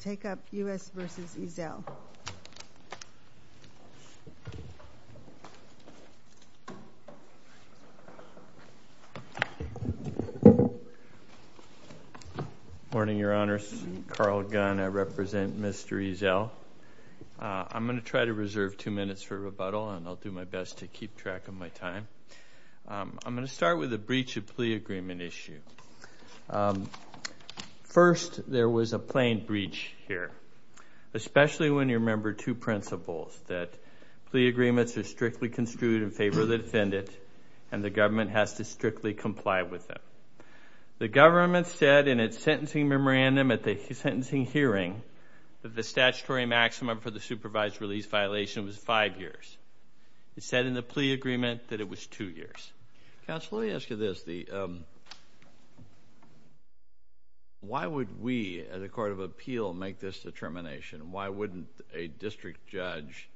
Take up U.S. v. Ezell. Morning, Your Honors. Carl Gunn. I represent Mr. Ezell. I'm going to try to reserve two minutes for rebuttal, and I'll do my best to keep track of my time. I'm going to start with a breach of plea agreement issue. First, there was a plain breach here, especially when you remember two principles, that plea agreements are strictly construed in favor of the defendant, and the government has to strictly comply with them. The government said in its sentencing memorandum at the sentencing hearing that the statutory maximum for the supervised release violation was five years. It said in the plea agreement that it was two years. Counsel, let me ask you this. Why would we, as a court of appeal, make this determination? Why wouldn't a district judge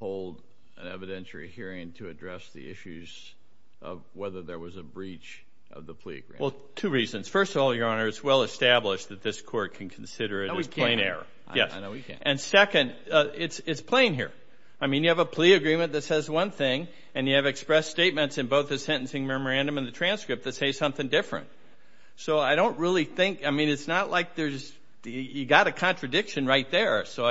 hold an evidentiary hearing to address the issues of whether there was a breach of the plea agreement? Well, two reasons. First of all, Your Honor, it's well established that this Court can consider it as plain error. I know we can. And second, it's plain here. I mean, you have a plea agreement that says one thing, and you have expressed statements in both the sentencing memorandum and the transcript that say something different. So I don't really think, I mean, it's not like there's, you've got a contradiction right there. So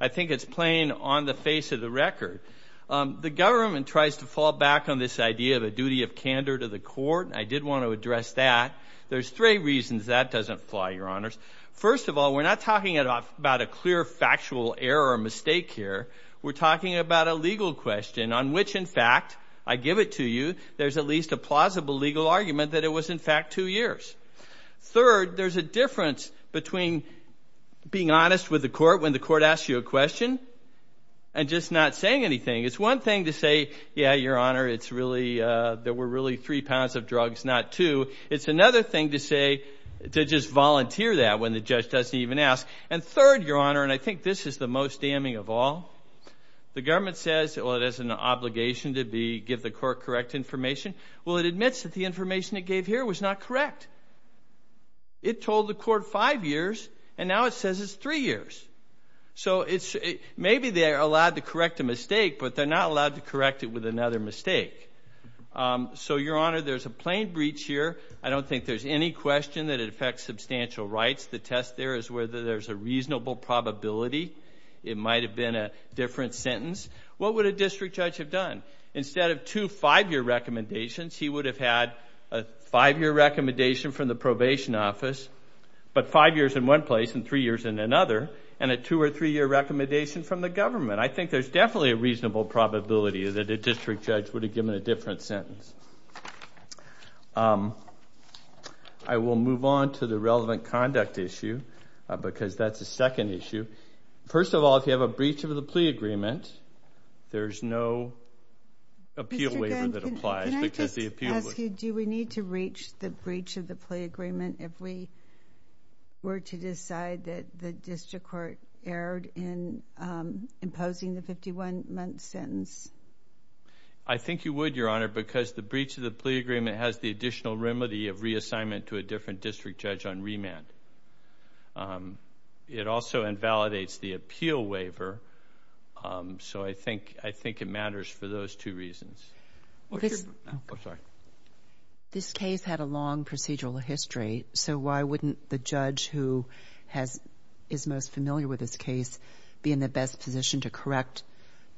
I think it's plain on the face of the record. The government tries to fall back on this idea of a duty of candor to the Court, and I did want to address that. There's three reasons that doesn't fly, Your Honors. First of all, we're not talking about a clear factual error or mistake here. We're talking about a legal question on which, in fact, I give it to you, there's at least a plausible legal argument that it was, in fact, two years. Third, there's a difference between being honest with the Court when the Court asks you a question and just not saying anything. It's one thing to say, yeah, Your Honor, it's really, there were really three pounds of drugs, not two. It's another thing to say, to just volunteer that when the judge doesn't even ask. And third, Your Honor, and I think this is the most damning of all, the government says, well, it has an obligation to give the Court correct information. Well, it admits that the information it gave here was not correct. It told the Court five years, and now it says it's three years. So maybe they're allowed to correct a mistake, but they're not allowed to correct it with another mistake. So, Your Honor, there's a plain breach here. I don't think there's any question that it affects substantial rights. The test there is whether there's a reasonable probability it might have been a different sentence. What would a district judge have done? Instead of two five-year recommendations, he would have had a five-year recommendation from the probation office, but five years in one place and three years in another, and a two- or three-year recommendation from the government. I think there's definitely a reasonable probability that a district judge would have given a different sentence. I will move on to the relevant conduct issue, because that's a second issue. First of all, if you have a breach of the plea agreement, there's no appeal waiver that applies. Mr. Gunn, can I just ask you, do we need to reach the breach of the plea agreement if we were to decide that the district court erred in imposing the 51-month sentence? I think you would, Your Honor, because the breach of the plea agreement has the additional remedy of reassignment to a different district judge on remand. It also invalidates the appeal waiver, so I think it matters for those two reasons. This case had a long procedural history, so why wouldn't the judge who is most familiar with this case be in the best position to correct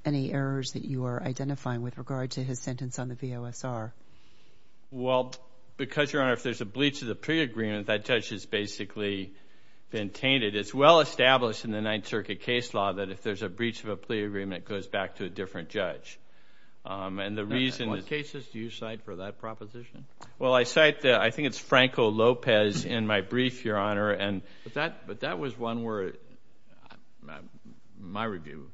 any errors that you are identifying with regard to his sentence on the VOSR? Well, because, Your Honor, if there's a breach of the plea agreement, that judge has basically been tainted. It's well-established in the Ninth Circuit case law that if there's a breach of a plea agreement, it goes back to a different judge. And the reason is one of the cases do you cite for that proposition? Well, I cite, I think it's Franco Lopez in my brief, Your Honor. But that was one where, in my review,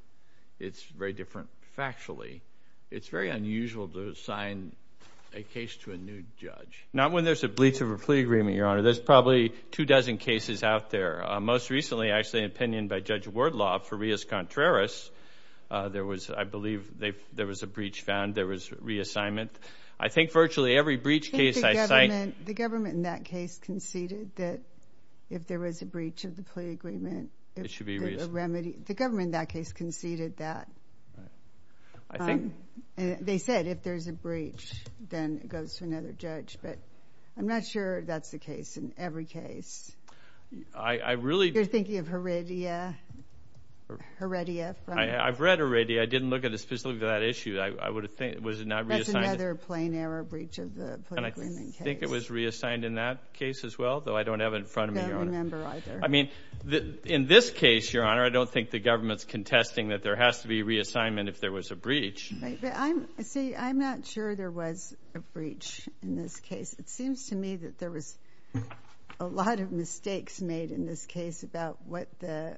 it's very different factually. It's very unusual to assign a case to a new judge. Not when there's a breach of a plea agreement, Your Honor. There's probably two dozen cases out there. Most recently, actually, an opinion by Judge Wardlaw for Rios Contreras. I believe there was a breach found. There was reassignment. I think virtually every breach case I cite. The government in that case conceded that if there was a breach of the plea agreement, it should be a remedy. The government in that case conceded that. They said if there's a breach, then it goes to another judge. But I'm not sure that's the case in every case. You're thinking of Heredia? I've read Heredia. I didn't look at it specifically for that issue. That's another plain error breach of the plea agreement case. I think it was reassigned in that case as well, though I don't have it in front of me, Your Honor. I don't remember either. In this case, Your Honor, I don't think the government's contesting that there has to be reassignment if there was a breach. See, I'm not sure there was a breach in this case. It seems to me that there was a lot of mistakes made in this case about what the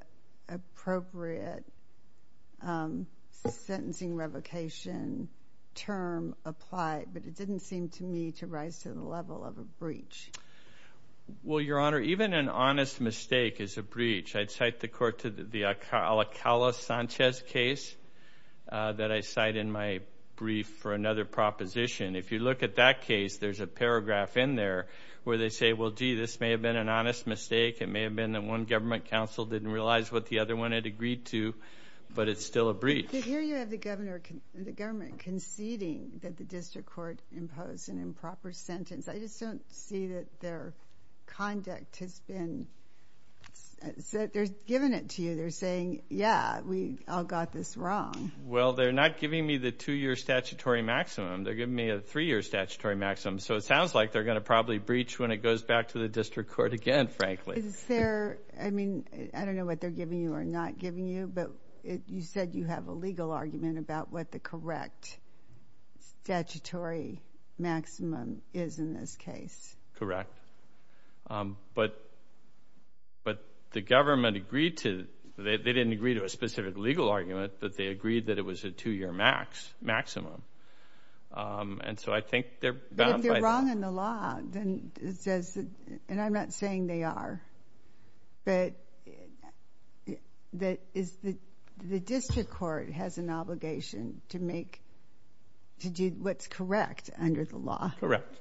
appropriate sentencing revocation term applied, but it didn't seem to me to rise to the level of a breach. Well, Your Honor, even an honest mistake is a breach. I'd cite the court to the Alcala-Sanchez case that I cite in my brief for another proposition. If you look at that case, there's a paragraph in there where they say, well, gee, this may have been an honest mistake. It may have been that one government counsel didn't realize what the other one had agreed to, but it's still a breach. But here you have the government conceding that the district court imposed an improper sentence. I just don't see that their conduct has been – they're giving it to you. They're saying, yeah, we all got this wrong. Well, they're not giving me the two-year statutory maximum. They're giving me a three-year statutory maximum. So it sounds like they're going to probably breach when it goes back to the district court again, frankly. Is there – I mean, I don't know what they're giving you or not giving you, but you said you have a legal argument about what the correct statutory maximum is in this case. Correct. But the government agreed to – they didn't agree to a specific legal argument, but they agreed that it was a two-year maximum. And so I think they're bound by that. But if they're wrong in the law, then it says – and I'm not saying they are, but the district court has an obligation to make – to do what's correct under the law. Correct.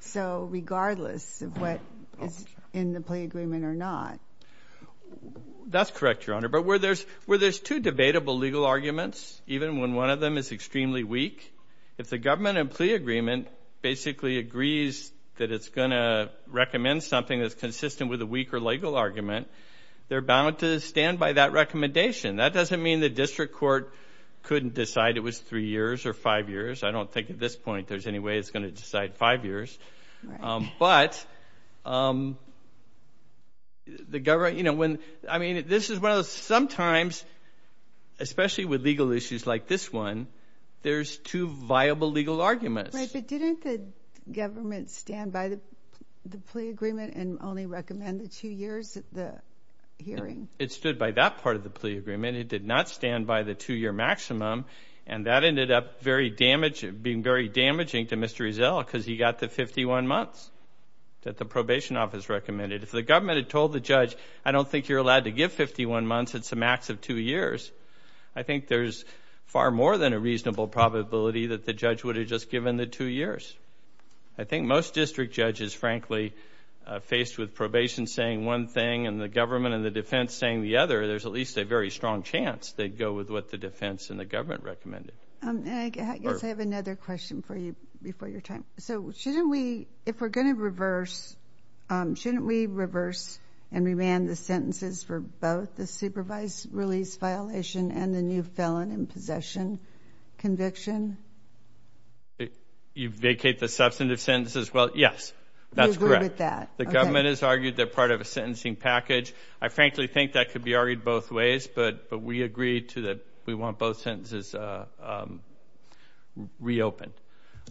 So regardless of what is in the plea agreement or not. That's correct, Your Honor. But where there's two debatable legal arguments, even when one of them is extremely weak, if the government in plea agreement basically agrees that it's going to recommend something that's consistent with a weak or legal argument, they're bound to stand by that recommendation. That doesn't mean the district court couldn't decide it was three years or five years. I don't think at this point there's any way it's going to decide five years. But the government – I mean, this is one of those – sometimes, especially with legal issues like this one, there's two viable legal arguments. But didn't the government stand by the plea agreement and only recommend the two years of the hearing? It stood by that part of the plea agreement. It did not stand by the two-year maximum. And that ended up being very damaging to Mr. Rizzo because he got the 51 months that the probation office recommended. If the government had told the judge, I don't think you're allowed to give 51 months, it's a max of two years, I think there's far more than a reasonable probability that the judge would have just given the two years. I think most district judges, frankly, faced with probation saying one thing and the government and the defense saying the other, there's at least a very strong chance they'd go with what the defense and the government recommended. I guess I have another question for you before your time. So shouldn't we, if we're going to reverse, shouldn't we reverse and remand the sentences for both the supervised release violation and the new felon in possession conviction? You vacate the substantive sentences? Well, yes, that's correct. The government has argued they're part of a sentencing package. I frankly think that could be argued both ways, but we agree to that we want both sentences reopened.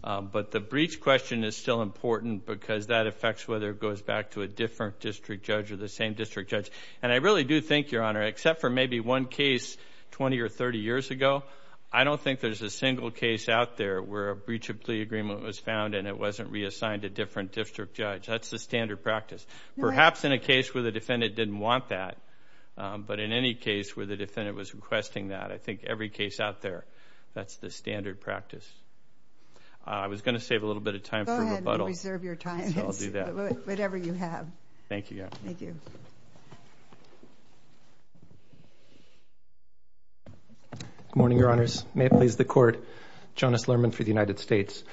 But the breach question is still important because that affects whether it goes back to a different district judge or the same district judge. And I really do think, Your Honor, except for maybe one case 20 or 30 years ago, I don't think there's a single case out there where a breach of plea agreement was found and it wasn't reassigned to a different district judge. That's the standard practice. Perhaps in a case where the defendant didn't want that, but in any case where the defendant was requesting that, I think every case out there, that's the standard practice. I was going to save a little bit of time for rebuttal. Go ahead and reserve your time, whatever you have. Thank you. Thank you. Good morning, Your Honors. May it please the Court. Jonas Lerman for the United States.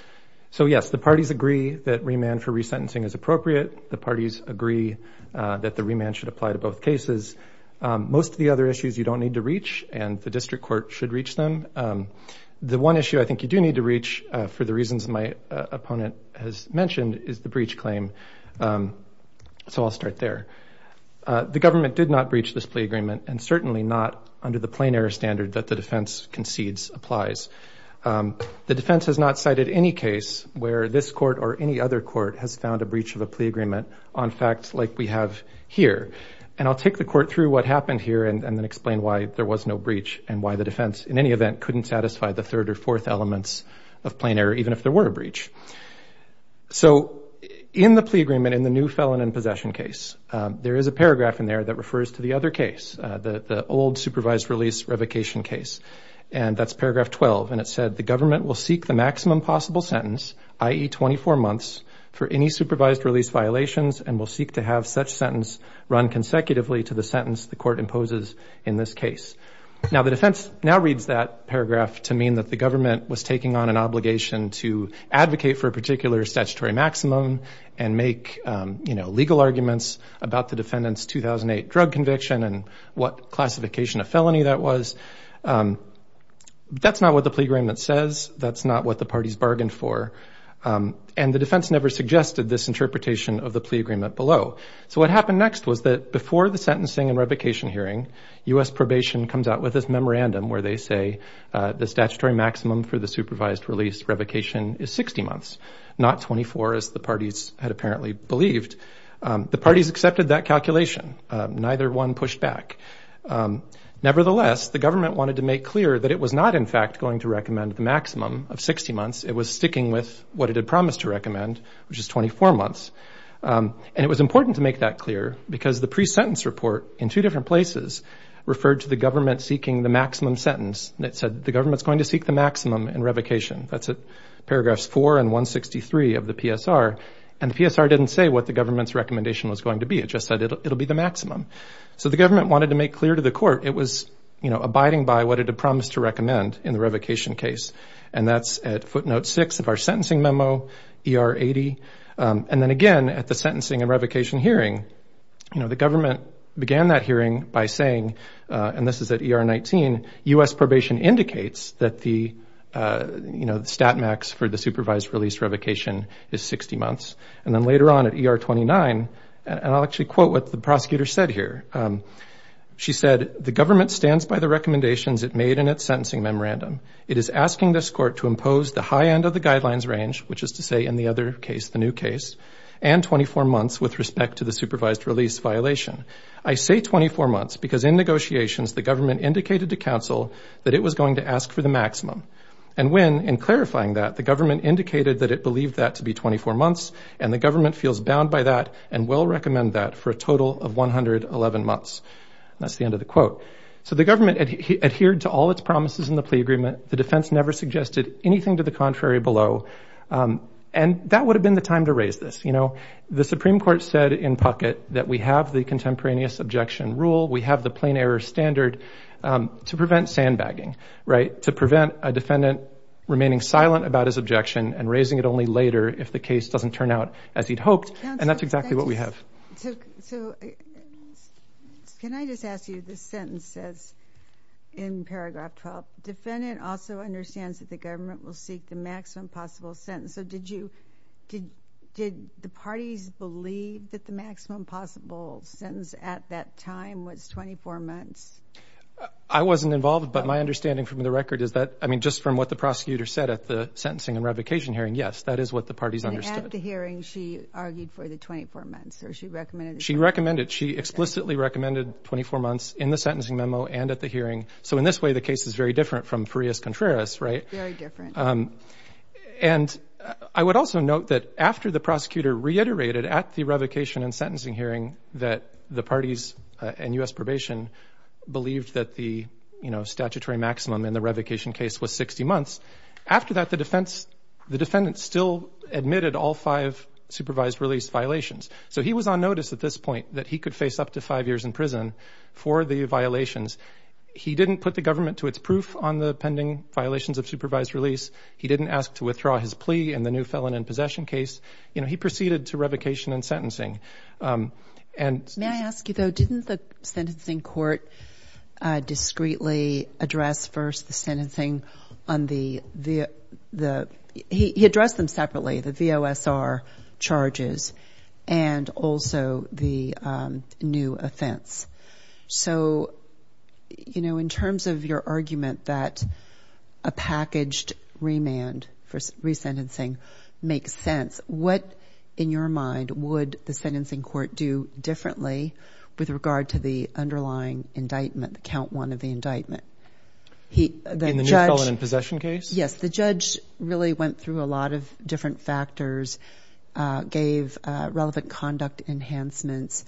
So, yes, the parties agree that remand for resentencing is appropriate. The parties agree that the remand should apply to both cases. Most of the other issues you don't need to reach, and the district court should reach them. The one issue I think you do need to reach, for the reasons my opponent has mentioned, is the breach claim. So I'll start there. The government did not breach this plea agreement, and certainly not under the plain-error standard that the defense concedes applies. The defense has not cited any case where this court or any other court has found a breach of a plea agreement on facts like we have here. And I'll take the Court through what happened here and then explain why there was no breach and why the defense, in any event, couldn't satisfy the third or fourth elements of plain-error, even if there were a breach. So in the plea agreement, in the new felon in possession case, there is a paragraph in there that refers to the other case, the old supervised release revocation case, and that's paragraph 12. And it said, The government will seek the maximum possible sentence, i.e., 24 months, for any supervised release violations and will seek to have such sentence run consecutively to the sentence the court imposes in this case. Now the defense now reads that paragraph to mean that the government was taking on an obligation to advocate for a particular statutory maximum and make legal arguments about the defendant's 2008 drug conviction and what classification of felony that was. That's not what the plea agreement says. That's not what the parties bargained for. And the defense never suggested this interpretation of the plea agreement below. So what happened next was that before the sentencing and revocation hearing, U.S. Probation comes out with this memorandum where they say the statutory maximum for the supervised release revocation is 60 months, not 24 as the parties had apparently believed. The parties accepted that calculation. Neither one pushed back. Nevertheless, the government wanted to make clear that it was not in fact going to recommend the maximum of 60 months. It was sticking with what it had promised to recommend, which is 24 months. And it was important to make that clear because the pre-sentence report in two different places referred to the government seeking the maximum sentence. And it said the government's going to seek the maximum in revocation. That's at paragraphs 4 and 163 of the PSR. And the PSR didn't say what the government's recommendation was going to be. It just said it'll be the maximum. So the government wanted to make clear to the court it was abiding by what it had promised to recommend in the revocation case. And that's at footnote 6 of our sentencing memo, ER 80. And then again at the sentencing and revocation hearing, the government began that hearing by saying, and this is at ER 19, U.S. Probation indicates that the stat max for the supervised release revocation is 60 months. And then later on at ER 29, and I'll actually quote what the prosecutor said here. She said, the government stands by the recommendations it made in its sentencing memorandum. It is asking this court to impose the high end of the guidelines range, which is to say in the other case, the new case, and 24 months with respect to the supervised release violation. I say 24 months because in negotiations the government indicated to counsel that it was going to ask for the maximum. And when, in clarifying that, the government indicated that it believed that to be 24 months and the government feels bound by that and will recommend that for a total of 111 months. That's the end of the quote. So the government adhered to all its promises in the plea agreement. The defense never suggested anything to the contrary below. And that would have been the time to raise this. The Supreme Court said in Puckett that we have the contemporaneous objection rule, we have the plain error standard to prevent sandbagging, right, to prevent a defendant remaining silent about his objection and raising it only later if the case doesn't turn out as he'd hoped. And that's exactly what we have. So can I just ask you, this sentence says in paragraph 12, defendant also understands that the government will seek the maximum possible sentence. So did you, did the parties believe that the maximum possible sentence at that time was 24 months? I wasn't involved, but my understanding from the record is that, I mean, just from what the prosecutor said at the sentencing and revocation hearing, yes, that is what the parties understood. And at the hearing she argued for the 24 months or she recommended it? She recommended, she explicitly recommended 24 months in the sentencing memo and at the hearing. So in this way the case is very different from Farias Contreras, right? Very different. And I would also note that after the prosecutor reiterated at the revocation and sentencing hearing that the parties and U.S. Probation believed that the, you know, new felon in possession case was 60 months, after that the defense, the defendant still admitted all five supervised release violations. So he was on notice at this point that he could face up to five years in prison for the violations. He didn't put the government to its proof on the pending violations of supervised release. He didn't ask to withdraw his plea in the new felon in possession case. You know, he proceeded to revocation and sentencing. May I ask you, though, didn't the sentencing court discreetly address first the sentencing on the, he addressed them separately, the VOSR charges and also the new offense. So, you know, in terms of your argument that a packaged remand for resentencing makes sense, what, in your mind, would the sentencing court do differently with regard to the underlying indictment, the count one of the indictment? In the new felon in possession case? Yes, the judge really went through a lot of different factors, gave relevant conduct enhancements,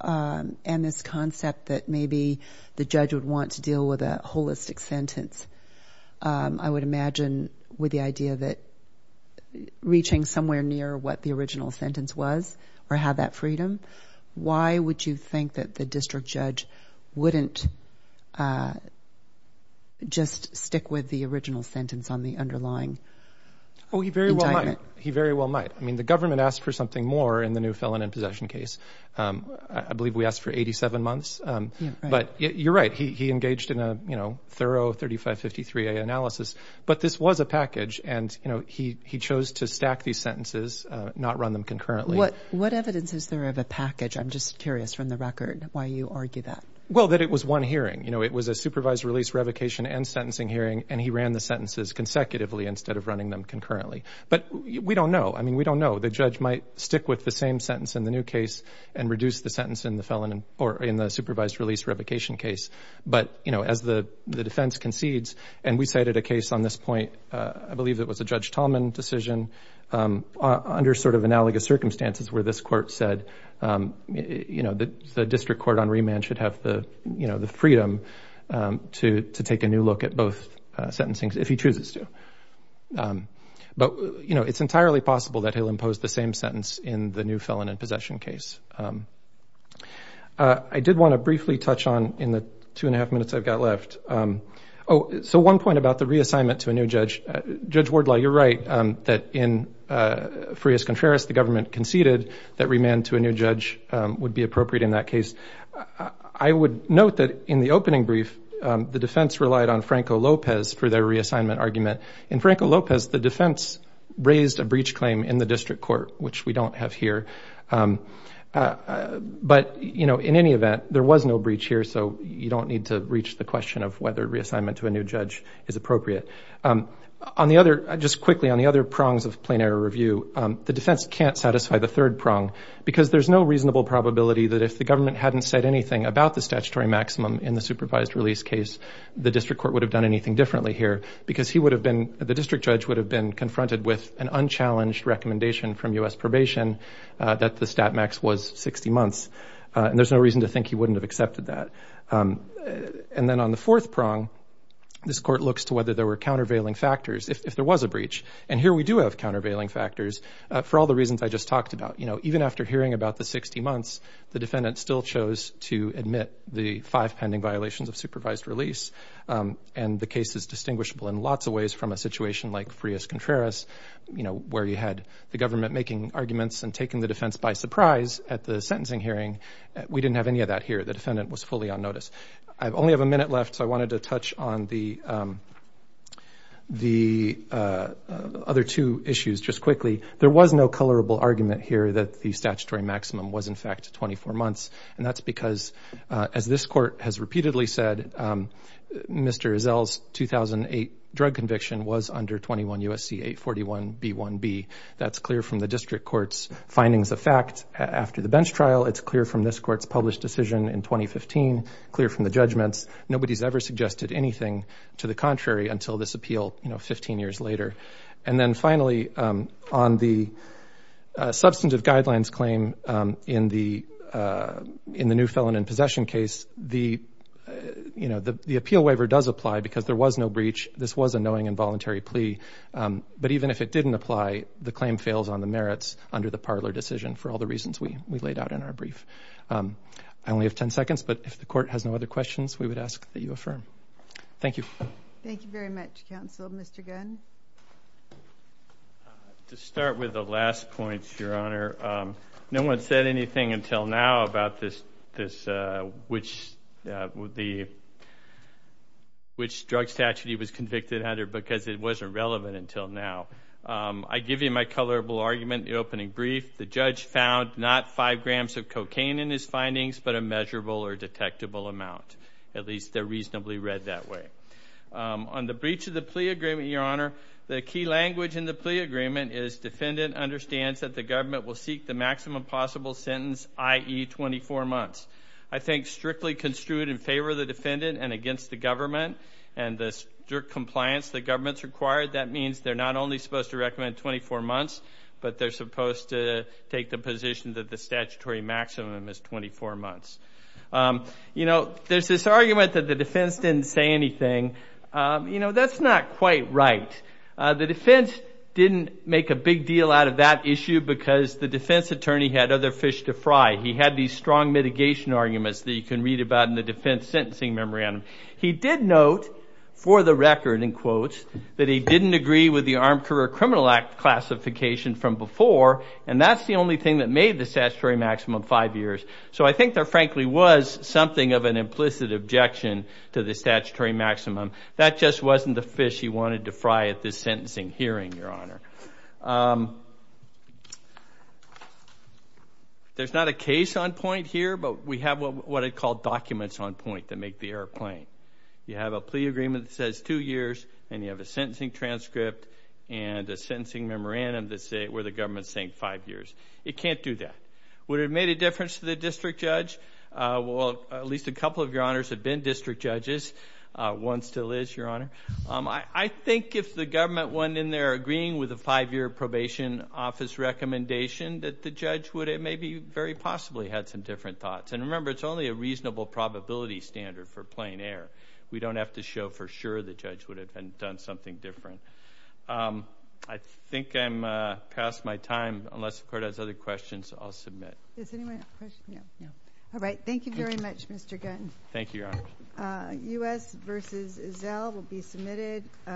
and this concept that maybe the judge would want to deal with a holistic sentence. I would imagine with the idea that reaching somewhere near what the original sentence was or have that freedom, why would you think that the judge would just stick with the original sentence on the underlying indictment? Oh, he very well might. He very well might. I mean, the government asked for something more in the new felon in possession case. I believe we asked for 87 months. Yeah, right. But you're right. He engaged in a, you know, thorough 3553A analysis. But this was a package, and, you know, he chose to stack these sentences, not run them concurrently. What evidence is there of a package? I'm just curious from the record why you argue that. Well, that it was one hearing. You know, it was a supervised release revocation and sentencing hearing, and he ran the sentences consecutively instead of running them concurrently. But we don't know. I mean, we don't know. The judge might stick with the same sentence in the new case and reduce the sentence in the supervised release revocation case. But, you know, as the defense concedes, and we cited a case on this point, I believe it was a Judge Tallman decision under sort of analogous circumstances where this court said, you know, the district court on remand should have the, you know, the freedom to take a new look at both sentencing if he chooses to. But, you know, it's entirely possible that he'll impose the same sentence in the new felon in possession case. I did want to briefly touch on, in the two and a half minutes I've got left, oh, so one point about the reassignment to a new judge. Judge Wardlaw, you're right that in Frias-Contreras the government conceded that remand to a new judge would be appropriate in that case. I would note that in the opening brief the defense relied on Franco Lopez for their reassignment argument. In Franco Lopez the defense raised a breach claim in the district court, which we don't have here. But, you know, in any event, there was no breach here, so you don't need to reach the question of whether reassignment to a new judge is appropriate. Just quickly, on the other prongs of plain error review, the defense can't satisfy the third prong because there's no reasonable probability that if the government hadn't said anything about the statutory maximum in the supervised release case the district court would have done anything differently here because the district judge would have been confronted with an unchallenged recommendation from U.S. probation that the stat max was 60 months, and there's no reason to think he wouldn't have accepted that. And then on the fourth prong, this court looks to whether there were countervailing factors, if there was a breach, and here we do have countervailing factors for all the reasons I just talked about. You know, even after hearing about the 60 months, the defendant still chose to admit the five pending violations of supervised release, and the case is distinguishable in lots of ways from a situation like Frias-Contreras, you know, where you had the government making arguments and taking the defense by surprise at the sentencing hearing. We didn't have any of that here. The defendant was fully on notice. I only have a minute left, so I wanted to touch on the other two issues just quickly. There was no colorable argument here that the statutory maximum was, in fact, 24 months, and that's because, as this court has repeatedly said, Mr. Ezell's 2008 drug conviction was under 21 U.S.C. 841b1b. That's clear from the district court's findings of fact after the bench trial. It's clear from this court's published decision in 2015, clear from the judgments. Nobody's ever suggested anything to the contrary until this appeal, you know, 15 years later. And then finally, on the substantive guidelines claim in the new felon in possession case, the appeal waiver does apply because there was no breach. This was a knowing and voluntary plea. But even if it didn't apply, the claim fails on the merits under the Parler decision for all the reasons we laid out in our brief. I only have 10 seconds, but if the court has no other questions, we would ask that you affirm. Thank you. Thank you very much, counsel. Mr. Gunn? To start with the last points, Your Honor, no one said anything until now about which drug statute he was convicted under because it wasn't relevant until now. I give you my colorable argument in the opening brief. The judge found not five grams of cocaine in his findings, but a measurable or detectable amount. At least they're reasonably read that way. On the breach of the plea agreement, Your Honor, the key language in the plea agreement is defendant understands that the government will seek the maximum possible sentence, i.e. 24 months. I think strictly construed in favor of the defendant and against the government and the strict compliance the government's required, that means they're not only supposed to recommend 24 months, but they're supposed to take the position that the statutory maximum is 24 months. You know, there's this argument that the defense didn't say anything. You know, that's not quite right. The defense didn't make a big deal out of that issue because the defense attorney had other fish to fry. He had these strong mitigation arguments that you can read about in the defense sentencing memorandum. He did note for the record, in quotes, that he didn't agree with the Armed Career Criminal Act classification from before, and that's the only thing that made the statutory maximum five years. So I think there frankly was something of an implicit objection to the statutory maximum. That just wasn't the fish he wanted to fry at this sentencing hearing, Your Honor. There's not a case on point here, but we have what are called documents on point that make the airplane. You have a plea agreement that says two years, and you have a sentencing transcript and a sentencing memorandum where the government's saying five years. It can't do that. Would it have made a difference to the district judge? Well, at least a couple of your honors have been district judges. One still is, Your Honor. I think if the government went in there agreeing with the federal statute, with the five-year probation office recommendation, that the judge would have maybe very possibly had some different thoughts. And remember, it's only a reasonable probability standard for plane air. We don't have to show for sure the judge would have done something different. I think I'm past my time. Unless the Court has other questions, I'll submit. Does anyone have questions? All right. Thank you very much, Mr. Gunn. Thank you, Your Honor. U.S. v. Zell will be submitted.